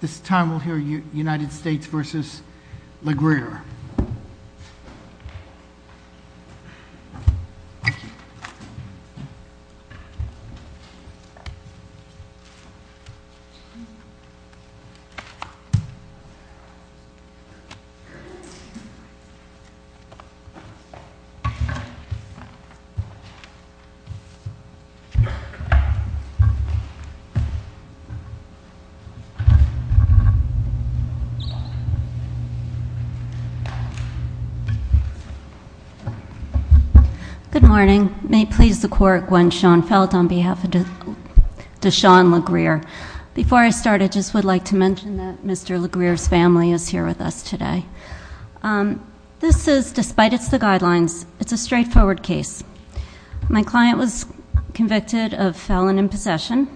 This time we'll hear United States v. Le Grier. Good morning. May it please the court, Gwen Schoenfeld on behalf of Deshaun Le Grier. Before I start, I just would like to mention that Mr. Le Grier's family is here with us today. This is, despite it's the guidelines, it's a straightforward case. My client was convicted of felon in possession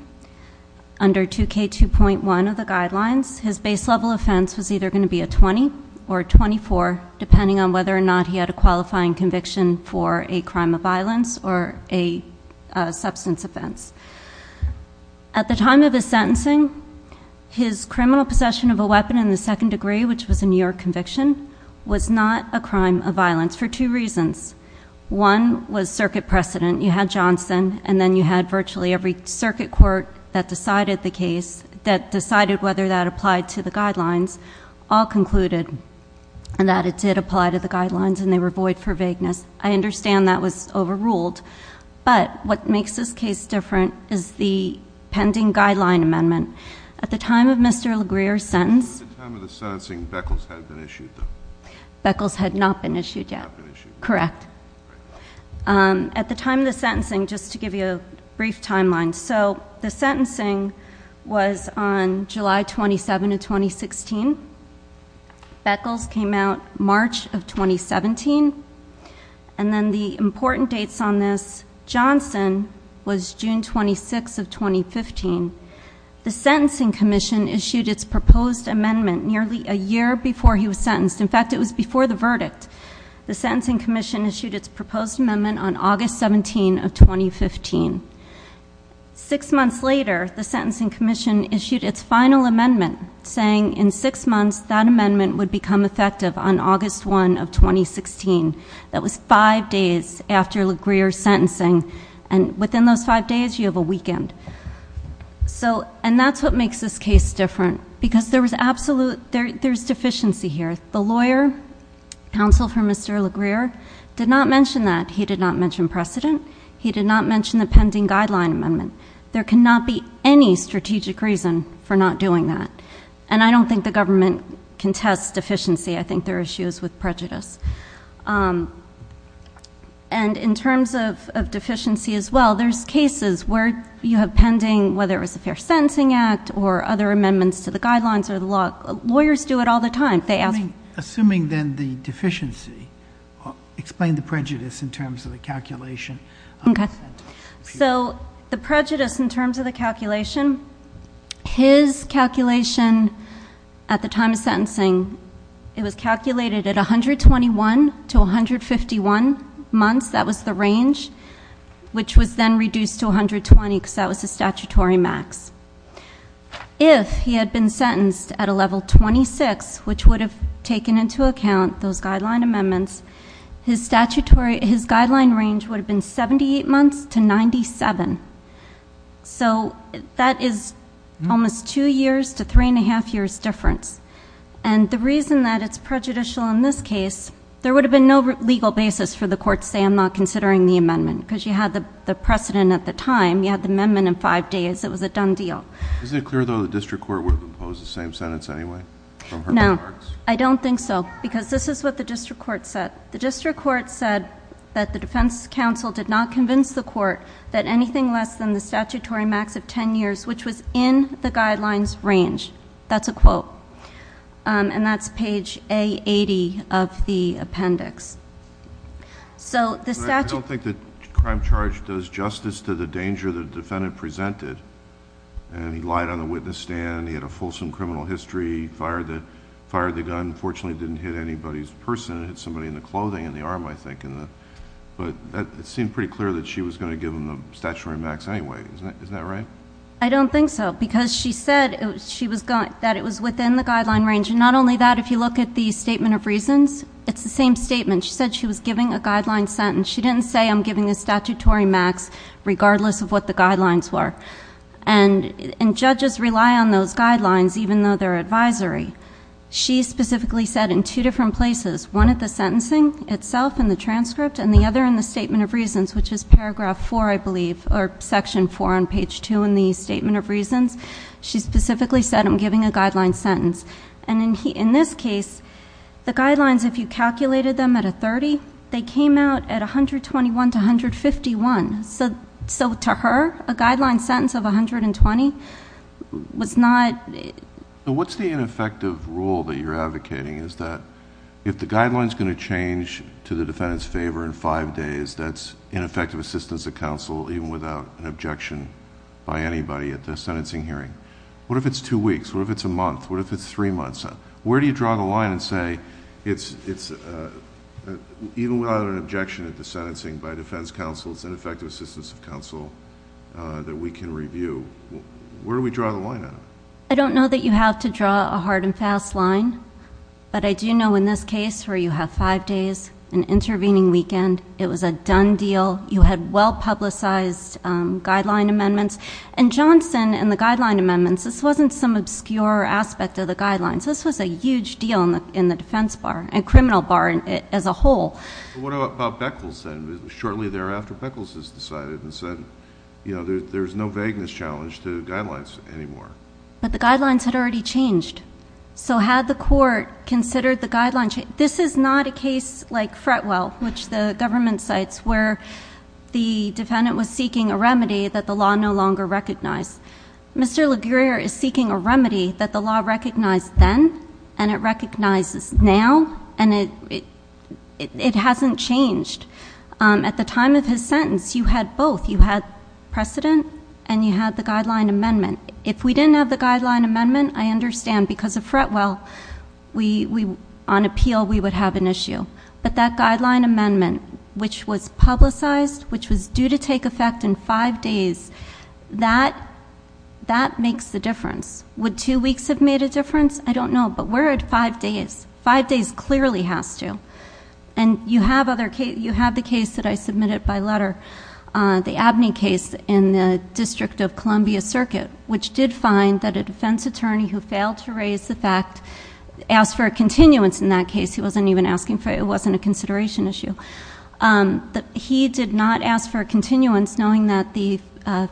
under 2K2.1 of the guidelines. His base level offense was either going to be a 20 or a 24, depending on whether or not he had a qualifying conviction for a crime of violence or a substance offense. At the time of his sentencing, his criminal possession of a weapon in the second degree, which was a New York conviction, was not a crime of violence for two reasons. One was circuit precedent. You had Johnson and then you had virtually every circuit court that decided the case, that decided whether that applied to the guidelines, all concluded that it did apply to the guidelines and they were void for vagueness. I understand that was overruled, but what makes this case different is the pending guideline amendment. At the time of Mr. Le Grier's sentence— At the time of the sentencing, Beckles had been issued, though. Beckles had not been issued yet. Correct. At the time of the sentencing, just to give you a brief timeline, so the sentencing was on July 27 of 2016. Beckles came out March of 2017. And then the important dates on this, Johnson was June 26 of 2015. The Sentencing Commission issued its proposed amendment nearly a year before he was sentenced. In fact, it was before the verdict. The Sentencing Commission issued its proposed amendment on August 17 of 2015. Six months later, the Sentencing Commission issued its final amendment, saying in six months that amendment would become effective on August 1 of 2016. That was five days after Le Grier's sentencing. And within those five days, you have a weekend. And that's what makes this case different, because there's deficiency here. The lawyer, counsel for Mr. Le Grier, did not mention that. He did not mention precedent. He did not mention the pending guideline amendment. There cannot be any strategic reason for not doing that. And I don't think the government contests deficiency. I think there are issues with prejudice. And in terms of deficiency as well, there's cases where you have pending, whether it was the Fair Sentencing Act or other amendments to the guidelines or the law. Lawyers do it all the time. They ask... Assuming then the deficiency, explain the prejudice in terms of the calculation. Okay. So the prejudice in terms of the calculation, his calculation at the time of sentencing, it was calculated at 121 to 151 months. That was the range, which was then reduced to 120, because that was the statutory max. If he had been sentenced at a level 26, which would have taken into account those guideline amendments, his guideline range would have been 78 months to 97. So that is almost two years to three and a half years difference. And the reason that it's prejudicial in this case, there would have been no legal basis for the court to say, I'm not considering the amendment, because you had the precedent at the time. You had the amendment in five days. It was a done deal. Isn't it clear though the district court would have imposed the same sentence anyway? No. I don't think so, because this is what the district court said. The district court said that the defense counsel did not convince the court that anything less than the statutory max of ten years, which was in the guidelines range. That's a quote. And that's page A80 of the appendix. So the statute... I don't think the crime charge does justice to the danger the defendant presented. He lied on the witness stand. He had a fulsome criminal history. He fired the gun. Unfortunately, it didn't hit anybody's person. It hit somebody in the clothing and the arm, I think. But it seemed pretty clear that she was going to give him the statutory max anyway. Isn't that right? I don't think so. Because she said that it was within the guideline range. And not only that, if you look at the statement of reasons, it's the same statement. She said she was giving a guideline sentence. She didn't say, I'm giving a statutory max regardless of what the guidelines were. And judges rely on those guidelines even though they're advisory. She specifically said in two different places, one at the sentencing itself in the transcript and the other in the statement of reasons, which is paragraph four, I believe, or section four on page two in the statement of reasons. She specifically said, I'm giving a guideline sentence. And in this case, the guidelines, if you calculated them at a 30, they came out at 121 to 151. So to her, a guideline sentence of 120 was not... What's the ineffective rule that you're advocating? Is that if the guideline is going to change to the defendant's favor in five days, that's ineffective assistance of counsel even without an objection by anybody at the sentencing hearing? What if it's two weeks? What if it's a month? What if it's three months? Where do you draw the line and say, even without an objection at the sentencing by defense counsel, it's ineffective assistance of counsel that we can review? Where do we draw the line at? I don't know that you have to draw a hard and fast line, but I do know in this case where you have five days, an intervening weekend, it was a done deal. You had well-publicized guideline amendments. And Johnson and the guideline amendments, this wasn't some obscure aspect of the guidelines. This was a huge deal in the defense bar and criminal bar as a whole. What about Beckles then? Shortly thereafter, Beckles has decided and said there's no vagueness challenge to guidelines anymore. But the guidelines had already changed. So had the court considered the guideline change? This is not a case like Fretwell, which the government cites, where the defendant was seeking a remedy that the law no longer recognized. Mr. Laguerre is seeking a remedy that the law recognized then, and it recognizes now, and it hasn't changed. At the time of his sentence, you had both. You had precedent, and you had the guideline amendment. If we didn't have the guideline amendment, I understand because of Fretwell, on appeal, we would have an issue. But that guideline amendment, which was publicized, which was due to take effect in five days, that makes the difference. Would two weeks have made a difference? I don't know, but we're at five days. Five days clearly has to. And you have the case that I submitted by letter, the Abney case in the District of Columbia Circuit, which did find that a defense attorney who failed to raise the fact asked for a continuance in that case. He wasn't even asking for it. It wasn't a consideration issue. He did not ask for a continuance knowing that the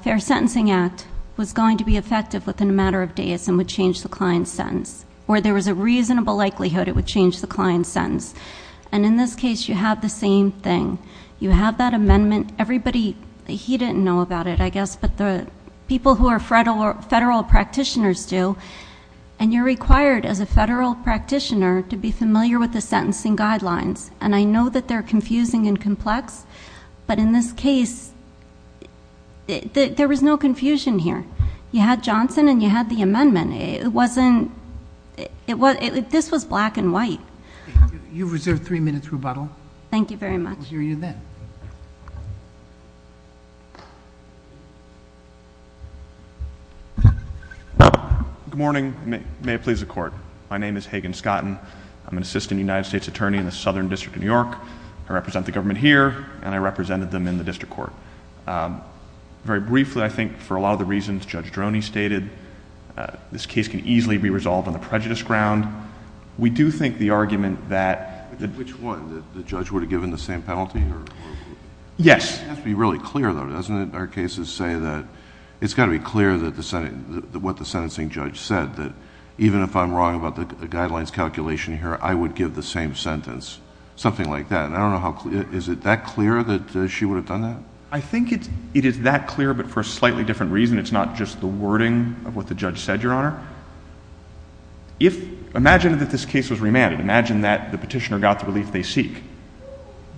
Fair Sentencing Act was going to be effective within a matter of days and would change the client's sentence, or there was a reasonable likelihood it would change the client's sentence. And in this case, you have the same thing. You have that amendment. Everybody, he didn't know about it, I guess, but the people who are federal practitioners do. And you're required, as a federal practitioner, to be familiar with the sentencing guidelines. And I know that they're confusing and complex, but in this case, there was no confusion here. You had Johnson and you had the amendment. It wasn't... this was black and white. You've reserved three minutes rebuttal. Thank you very much. We'll hear you then. Good morning. May it please the Court. My name is Hagen Scotton. I'm an Assistant United States Attorney in the Southern District of New York. I represent the government here, and I represented them in the District Court. Very briefly, I think, for a lot of the reasons Judge Droney stated, this case can easily be resolved on the prejudice ground. We do think the argument that... Which one? That the judge would have given the same penalty? Yes. It has to be really clear, though, doesn't it? Our cases say that it's got to be clear what the sentencing judge said, that even if I'm wrong about the guidelines calculation here, I would give the same sentence, something like that. I don't know how... is it that clear that she would have done that? I think it is that clear, but for a slightly different reason. It's not just the wording of what the judge said, Your Honor. If... imagine that this case was remanded. Imagine that the petitioner got the relief they seek.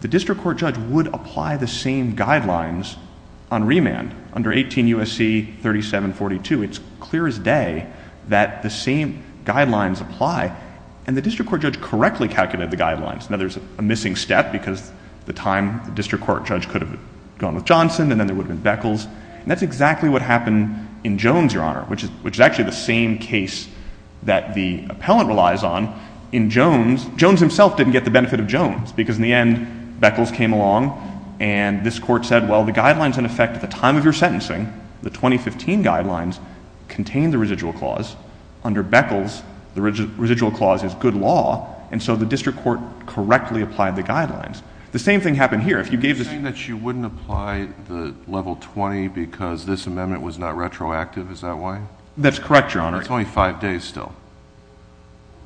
The District Court judge would apply the same guidelines on remand under 18 U.S.C. 3742. It's clear as day that the same guidelines apply, and the District Court judge correctly calculated the guidelines. Now, there's a missing step, because at the time, the District Court judge could have gone with Johnson, and then there would have been Beckles. And that's exactly what happened in Jones, Your Honor, which is actually the same case that the appellant relies on in Jones. Jones himself didn't get the benefit of Jones, because in the end, Beckles came along, and this Court said, well, the guidelines, in effect, at the time of your sentencing, the 2015 guidelines, contain the residual clause. Under Beckles, the residual clause is good law, and so the District Court correctly applied the guidelines. The same thing happened here. If you gave the... You're saying that you wouldn't apply the Level 20 because this amendment was not retroactive. Is that why? That's correct, Your Honor. It's only five days still.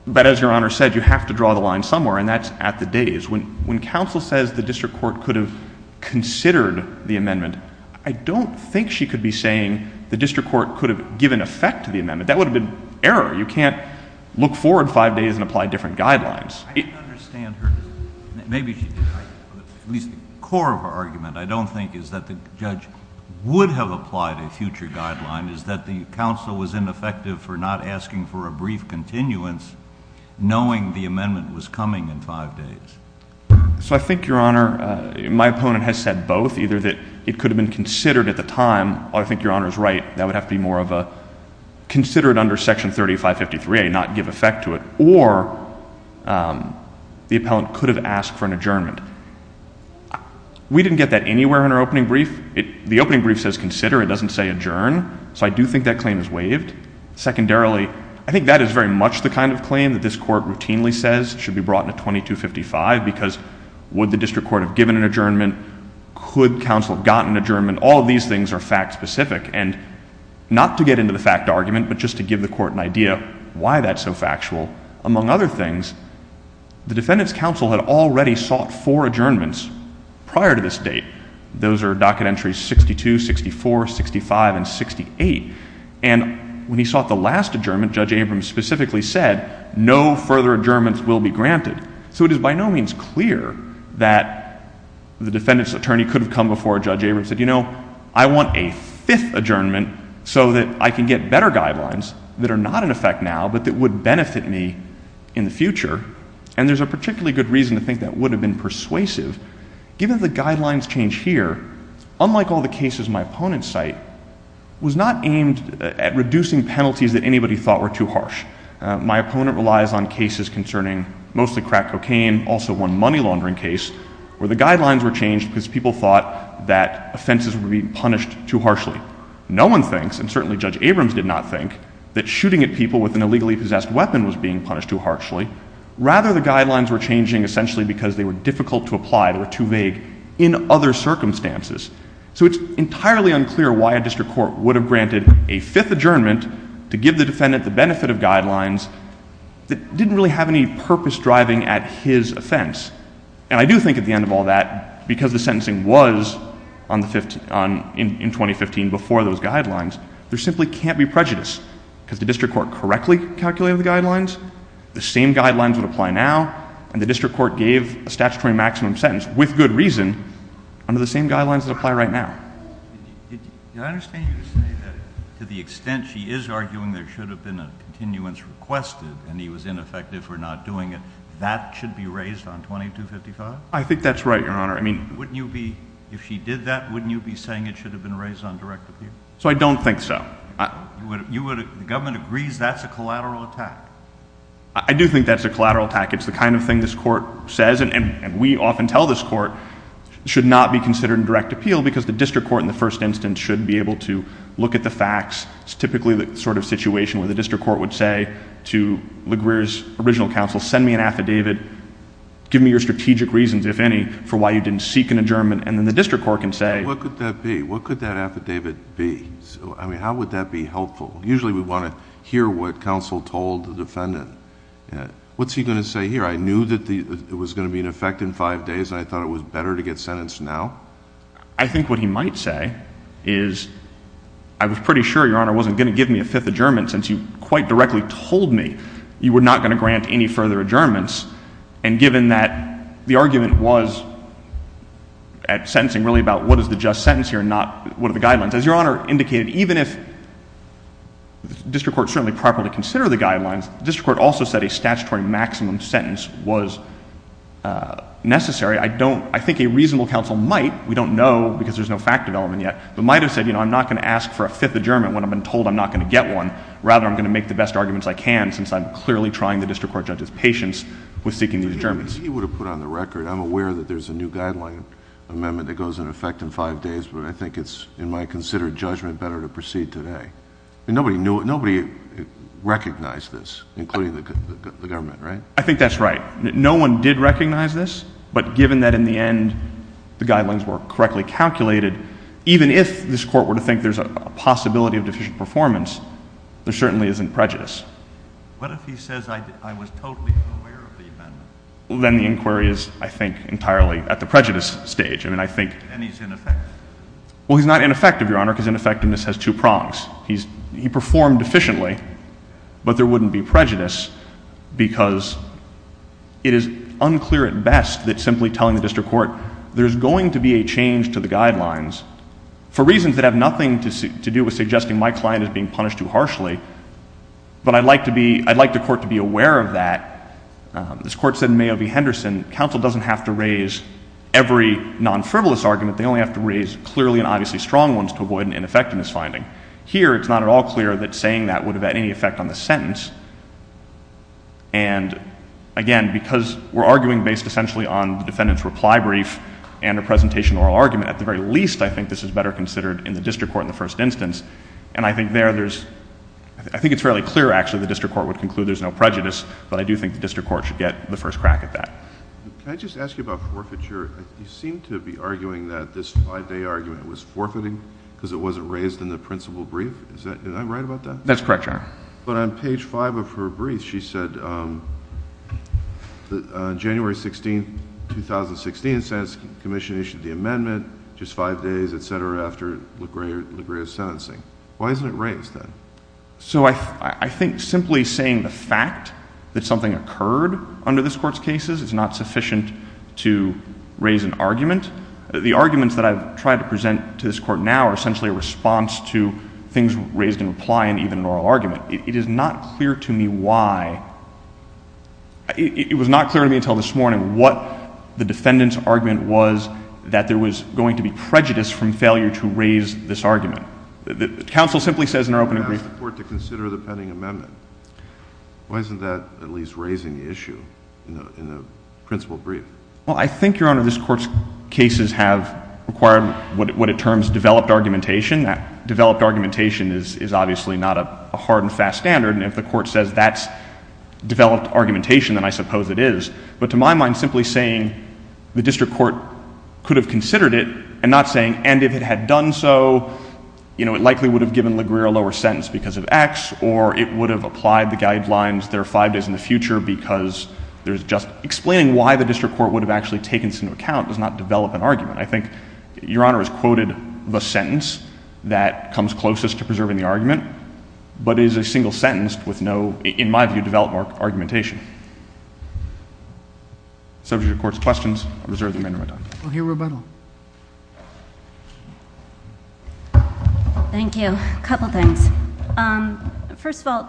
But as Your Honor said, you have to draw the line somewhere, and that's at the days. When counsel says the District Court could have considered the amendment, I don't think she could be saying the District Court could have given effect to the amendment. That would have been error. You can't look forward five days and apply different guidelines. I don't understand her. Maybe she did. At least the core of her argument, I don't think, is that the judge would have applied a future guideline, is that the counsel was ineffective for not asking for a brief continuance, knowing the amendment was coming in five days. So I think, Your Honor, my opponent has said both, either that it could have been considered at the time, I think Your Honor is right, that would have to be more of a consider it under Section 3553A, not give effect to it, or the appellant could have asked for an adjournment. We didn't get that anywhere in our opening brief. The opening brief says consider. It doesn't say adjourn. So I do think that claim is waived. Secondarily, I think that is very much the kind of claim that this Court routinely says should be brought into 2255 because would the District Court have given an adjournment? Could counsel have gotten an adjournment? I think all of these things are fact-specific. And not to get into the fact argument, but just to give the Court an idea why that's so factual. Among other things, the Defendant's counsel had already sought four adjournments prior to this date. Those are docket entries 62, 64, 65, and 68. And when he sought the last adjournment, Judge Abrams specifically said no further adjournments will be granted. So it is by no means clear that the Defendant's attorney could have come before Judge Abrams and said, you know, I want a fifth adjournment so that I can get better guidelines that are not in effect now, but that would benefit me in the future. And there's a particularly good reason to think that would have been persuasive. Given the guidelines change here, unlike all the cases my opponents cite, was not aimed at reducing penalties that anybody thought were too harsh. My opponent relies on cases concerning mostly crack cocaine, also one money laundering case, where the guidelines were changed because people thought that offenses were being punished too harshly. No one thinks, and certainly Judge Abrams did not think, that shooting at people with an illegally possessed weapon was being punished too harshly. Rather, the guidelines were changing essentially because they were difficult to apply, they were too vague, in other circumstances. So it's entirely unclear why a district court would have granted a fifth adjournment to give the Defendant the benefit of guidelines that didn't really have any purpose driving at his offense. And I do think at the end of all that, because the sentencing was in 2015 before those guidelines, there simply can't be prejudice because the district court correctly calculated the guidelines, the same guidelines would apply now, and the district court gave a statutory maximum sentence with good reason under the same guidelines that apply right now. I understand you say that to the extent she is arguing there should have been a continuance requested and he was ineffective for not doing it, that should be raised on 2255? I think that's right, Your Honor. Wouldn't you be, if she did that, wouldn't you be saying it should have been raised on direct appeal? So I don't think so. The government agrees that's a collateral attack. I do think that's a collateral attack. It's the kind of thing this Court says, and we often tell this Court, should not be considered in direct appeal because the district court in the first instance should be able to look at the facts. It's typically the sort of situation where the district court would say to LaGuerre's original counsel, send me an affidavit, give me your strategic reasons, if any, for why you didn't seek an adjournment, and then the district court can say... What could that be? What could that affidavit be? I mean, how would that be helpful? Usually we want to hear what counsel told the Defendant. What's he going to say here? I knew that it was going to be in effect in five days, and I thought it was better to get sentenced now? I think what he might say is I was pretty sure Your Honor wasn't going to give me a fifth adjournment since you quite directly told me you were not going to grant any further adjournments, and given that the argument was at sentencing really about what is the just sentence here and not what are the guidelines. As Your Honor indicated, even if the district court certainly properly considered the guidelines, the district court also said a statutory maximum sentence was necessary. I don't... I think a reasonable counsel might, we don't know because there's no fact development yet, but might have said, you know, I'm not going to ask for a fifth adjournment when I've been told I'm not going to get one. Rather, I'm going to make the best arguments I can since I'm clearly trying the district court judge's patience with seeking these adjournments. He would have put on the record, I'm aware that there's a new guideline amendment that goes into effect in five days, but I think it's, in my considered judgment, better to proceed today. Nobody recognized this, including the government, right? I think that's right. No one did recognize this, but given that in the end the guidelines were correctly calculated, even if this court were to think there's a possibility of deficient performance, there certainly isn't prejudice. What if he says I was totally unaware of the amendment? Then the inquiry is, I think, entirely at the prejudice stage. I mean, I think... Then he's ineffective. Well, he's not ineffective, Your Honor, because ineffectiveness has two prongs. He performed efficiently, but there wouldn't be prejudice because it is unclear at best that simply telling the district court, there's going to be a change to the guidelines for reasons that have nothing to do with suggesting my client is being punished too harshly, but I'd like to be, I'd like the court to be aware of that. This court said in Mayo v. Henderson, counsel doesn't have to raise every non-frivolous argument. They only have to raise clearly and obviously strong ones to avoid an ineffectiveness finding. Here, it's not at all clear that saying that would have had any effect on the sentence, and again, because we're arguing based essentially on the defendant's reply brief and a presentation oral argument, at the very least, I think this is better considered in the district court in the first instance, and I think there there's... I think it's fairly clear, actually, the district court would conclude there's no prejudice, but I do think the district court should get the first crack at that. Can I just ask you about forfeiture? You seem to be arguing that this five-day argument was forfeiting because it wasn't raised in the principal brief. Is that right about that? That's correct, Your Honor. But on page five of her brief, she said that on January 16, 2016, the Senate Commission issued the amendment just five days, et cetera, after Legrave's sentencing. Why isn't it raised then? So I think simply saying the fact that something occurred under this Court's cases is not sufficient to raise an argument. The arguments that I've tried to present to this Court now are essentially a response to things raised in reply and even an oral argument. It is not clear to me why... it was not clear to me until this morning what the defendant's argument was that there was going to be prejudice from failure to raise this argument. Counsel simply says in her opening brief... I asked the Court to consider the pending amendment. Why isn't that at least raising the issue in the principal brief? Well, I think, Your Honor, this Court's cases have required what it terms developed argumentation. That developed argumentation is obviously not a hard and fast standard, and if the Court says that's developed argumentation, then I suppose it is. But to my mind, simply saying the district court could have considered it and not saying, and if it had done so, you know, it likely would have given LaGreer a lower sentence because of X, or it would have applied the guidelines there are five days in the future because there's just... explaining why the district court would have actually taken this into account does not develop an argument. I think Your Honor has quoted the sentence that comes closest to preserving the argument, but it is a single sentence with no, in my view, developed argumentation. Subject to the Court's questions, I reserve the remainder of my time. We'll hear rebuttal. Thank you. A couple things. First of all,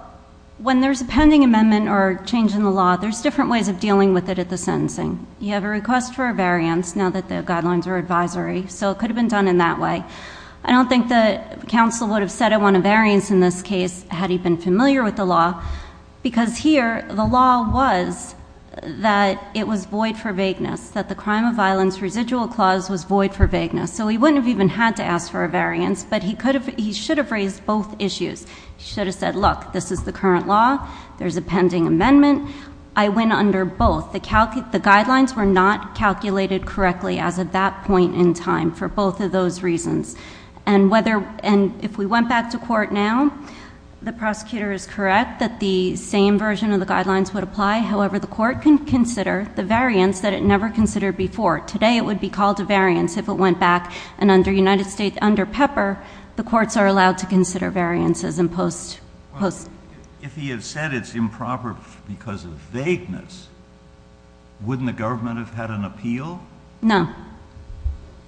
when there's a pending amendment or change in the law, there's different ways of dealing with it at the sentencing. You have a request for a variance, now that the guidelines are advisory, so it could have been done in that way. I don't think that counsel would have said I want a variance in this case had he been familiar with the law, because here the law was that it was void for vagueness, that the Crime of Violence Residual Clause was void for vagueness, so he wouldn't have even had to ask for a variance, but he should have raised both issues. He should have said, look, this is the current law, there's a pending amendment, I win under both. The guidelines were not calculated correctly as of that point in time for both of those reasons. And if we went back to court now, the prosecutor is correct that the same version of the guidelines would apply. However, the court can consider the variance that it never considered before. Today it would be called a variance if it went back, and under Pepper, the courts are allowed to consider variances in post. If he had said it's improper because of vagueness, wouldn't the government have had an appeal? No,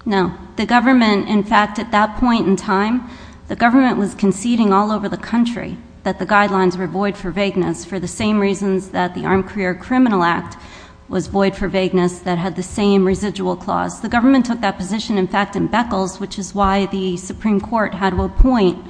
no. The government, in fact, at that point in time, the government was conceding all over the country that the guidelines were void for vagueness for the same reasons that the Armed Career Criminal Act was void for vagueness that had the same residual clause. The government took that position, in fact, in Beckles, which is why the Supreme Court had to appoint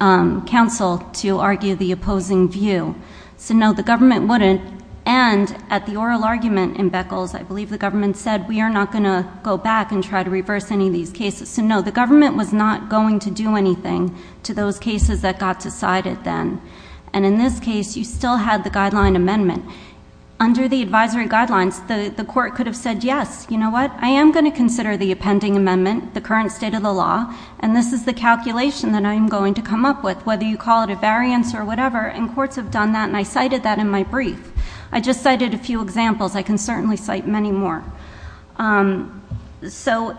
counsel to argue the opposing view. So no, the government wouldn't, and at the oral argument in Beckles, I believe the government said, we are not going to go back and try to reverse any of these cases. So no, the government was not going to do anything to those cases that got decided then. And in this case, you still had the guideline amendment. Under the advisory guidelines, the court could have said, yes, you know what, I am going to consider the pending amendment, the current state of the law, and this is the calculation that I am going to come up with, whether you call it a variance or whatever, and courts have done that, and I cited that in my brief. I just cited a few examples. I can certainly cite many more. So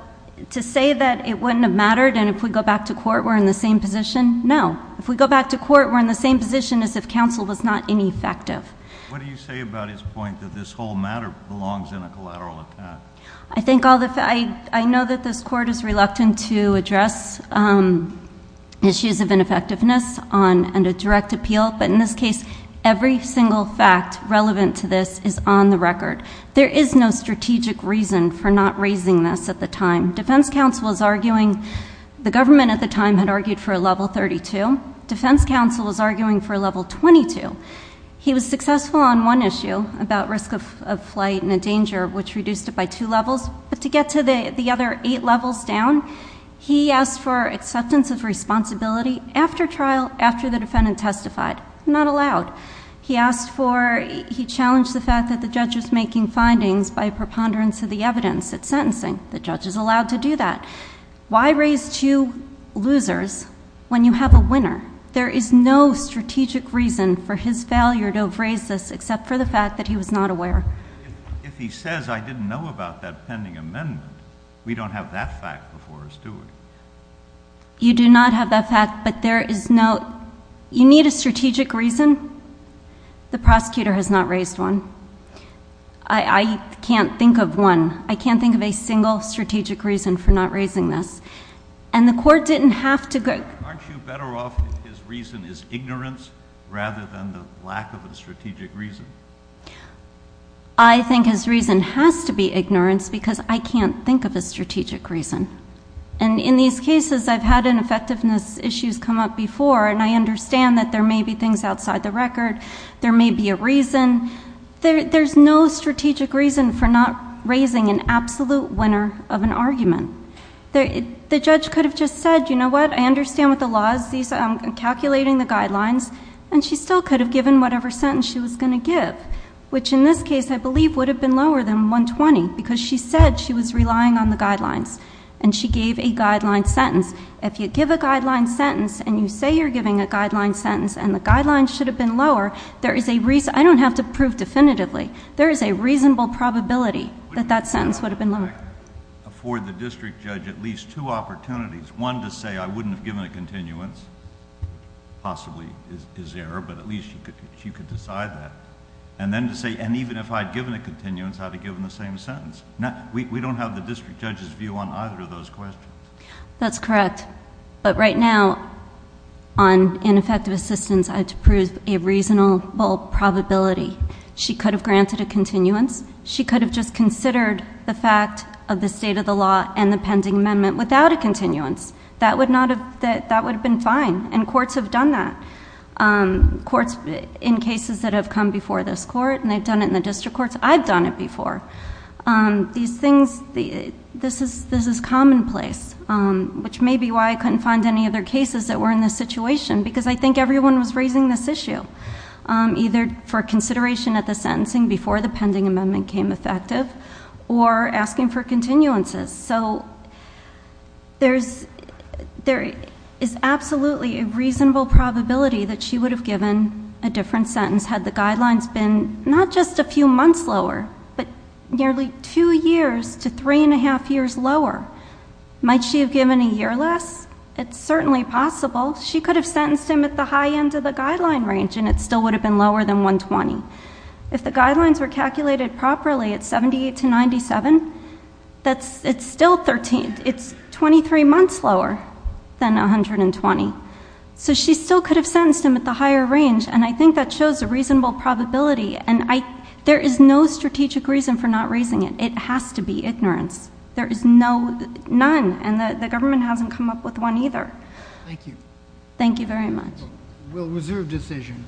to say that it wouldn't have mattered, and if we go back to court, we're in the same position? No. If we go back to court, we're in the same position as if counsel was not ineffective. What do you say about his point that this whole matter belongs in a collateral attack? I know that this court is reluctant to address issues of ineffectiveness under direct appeal, but in this case, every single fact relevant to this is on the record. There is no strategic reason for not raising this at the time. Defense counsel was arguing, the government at the time had argued for a level 32. Defense counsel was arguing for a level 22. He was successful on one issue about risk of flight and the danger, which reduced it by two levels, but to get to the other eight levels down, he asked for acceptance of responsibility after the defendant testified. Not allowed. He challenged the fact that the judge was making findings by preponderance of the evidence at sentencing. The judge is allowed to do that. Why raise two losers when you have a winner? There is no strategic reason for his failure to have raised this except for the fact that he was not aware. If he says, I didn't know about that pending amendment, we don't have that fact before us, do we? You do not have that fact, but there is no, you need a strategic reason. The prosecutor has not raised one. I can't think of one. I can't think of a single strategic reason for not raising this. And the court didn't have to go. Aren't you better off if his reason is ignorance rather than the lack of a strategic reason? I think his reason has to be ignorance because I can't think of a strategic reason. And in these cases, I've had ineffectiveness issues come up before, and I understand that there may be things outside the record. There may be a reason. There's no strategic reason for not raising an absolute winner of an argument. The judge could have just said, you know what? I understand what the law is. I'm calculating the guidelines. And she still could have given whatever sentence she was going to give, which in this case I believe would have been lower than 120 because she said she was relying on the guidelines. And she gave a guideline sentence. If you give a guideline sentence and you say you're giving a guideline sentence and the guideline should have been lower, there is a reason. I don't have to prove definitively. There is a reasonable probability that that sentence would have been lower. I would like for the district judge at least two opportunities, one to say I wouldn't have given a continuance, possibly is there, but at least she could decide that. And then to say, and even if I had given a continuance, I would have given the same sentence. We don't have the district judge's view on either of those questions. That's correct. But right now, on ineffective assistance, I have to prove a reasonable probability. She could have granted a continuance. She could have just considered the fact of the state of the law and the pending amendment without a continuance. That would have been fine. And courts have done that. Courts in cases that have come before this court, and they've done it in the district courts. I've done it before. These things, this is commonplace, which may be why I couldn't find any other cases that were in this situation, because I think everyone was raising this issue. Either for consideration of the sentencing before the pending amendment came effective, or asking for continuances. So there is absolutely a reasonable probability that she would have given a different sentence had the guidelines been not just a few months lower, but nearly two years to three and a half years lower. Might she have given a year less? It's certainly possible. She could have sentenced him at the high end of the guideline range, and it still would have been lower than 120. If the guidelines were calculated properly at 78 to 97, it's still 13. It's 23 months lower than 120. So she still could have sentenced him at the higher range, and I think that shows a reasonable probability. And there is no strategic reason for not raising it. It has to be ignorance. There is none, and the government hasn't come up with one either. Thank you. Thank you very much. We'll reserve decision.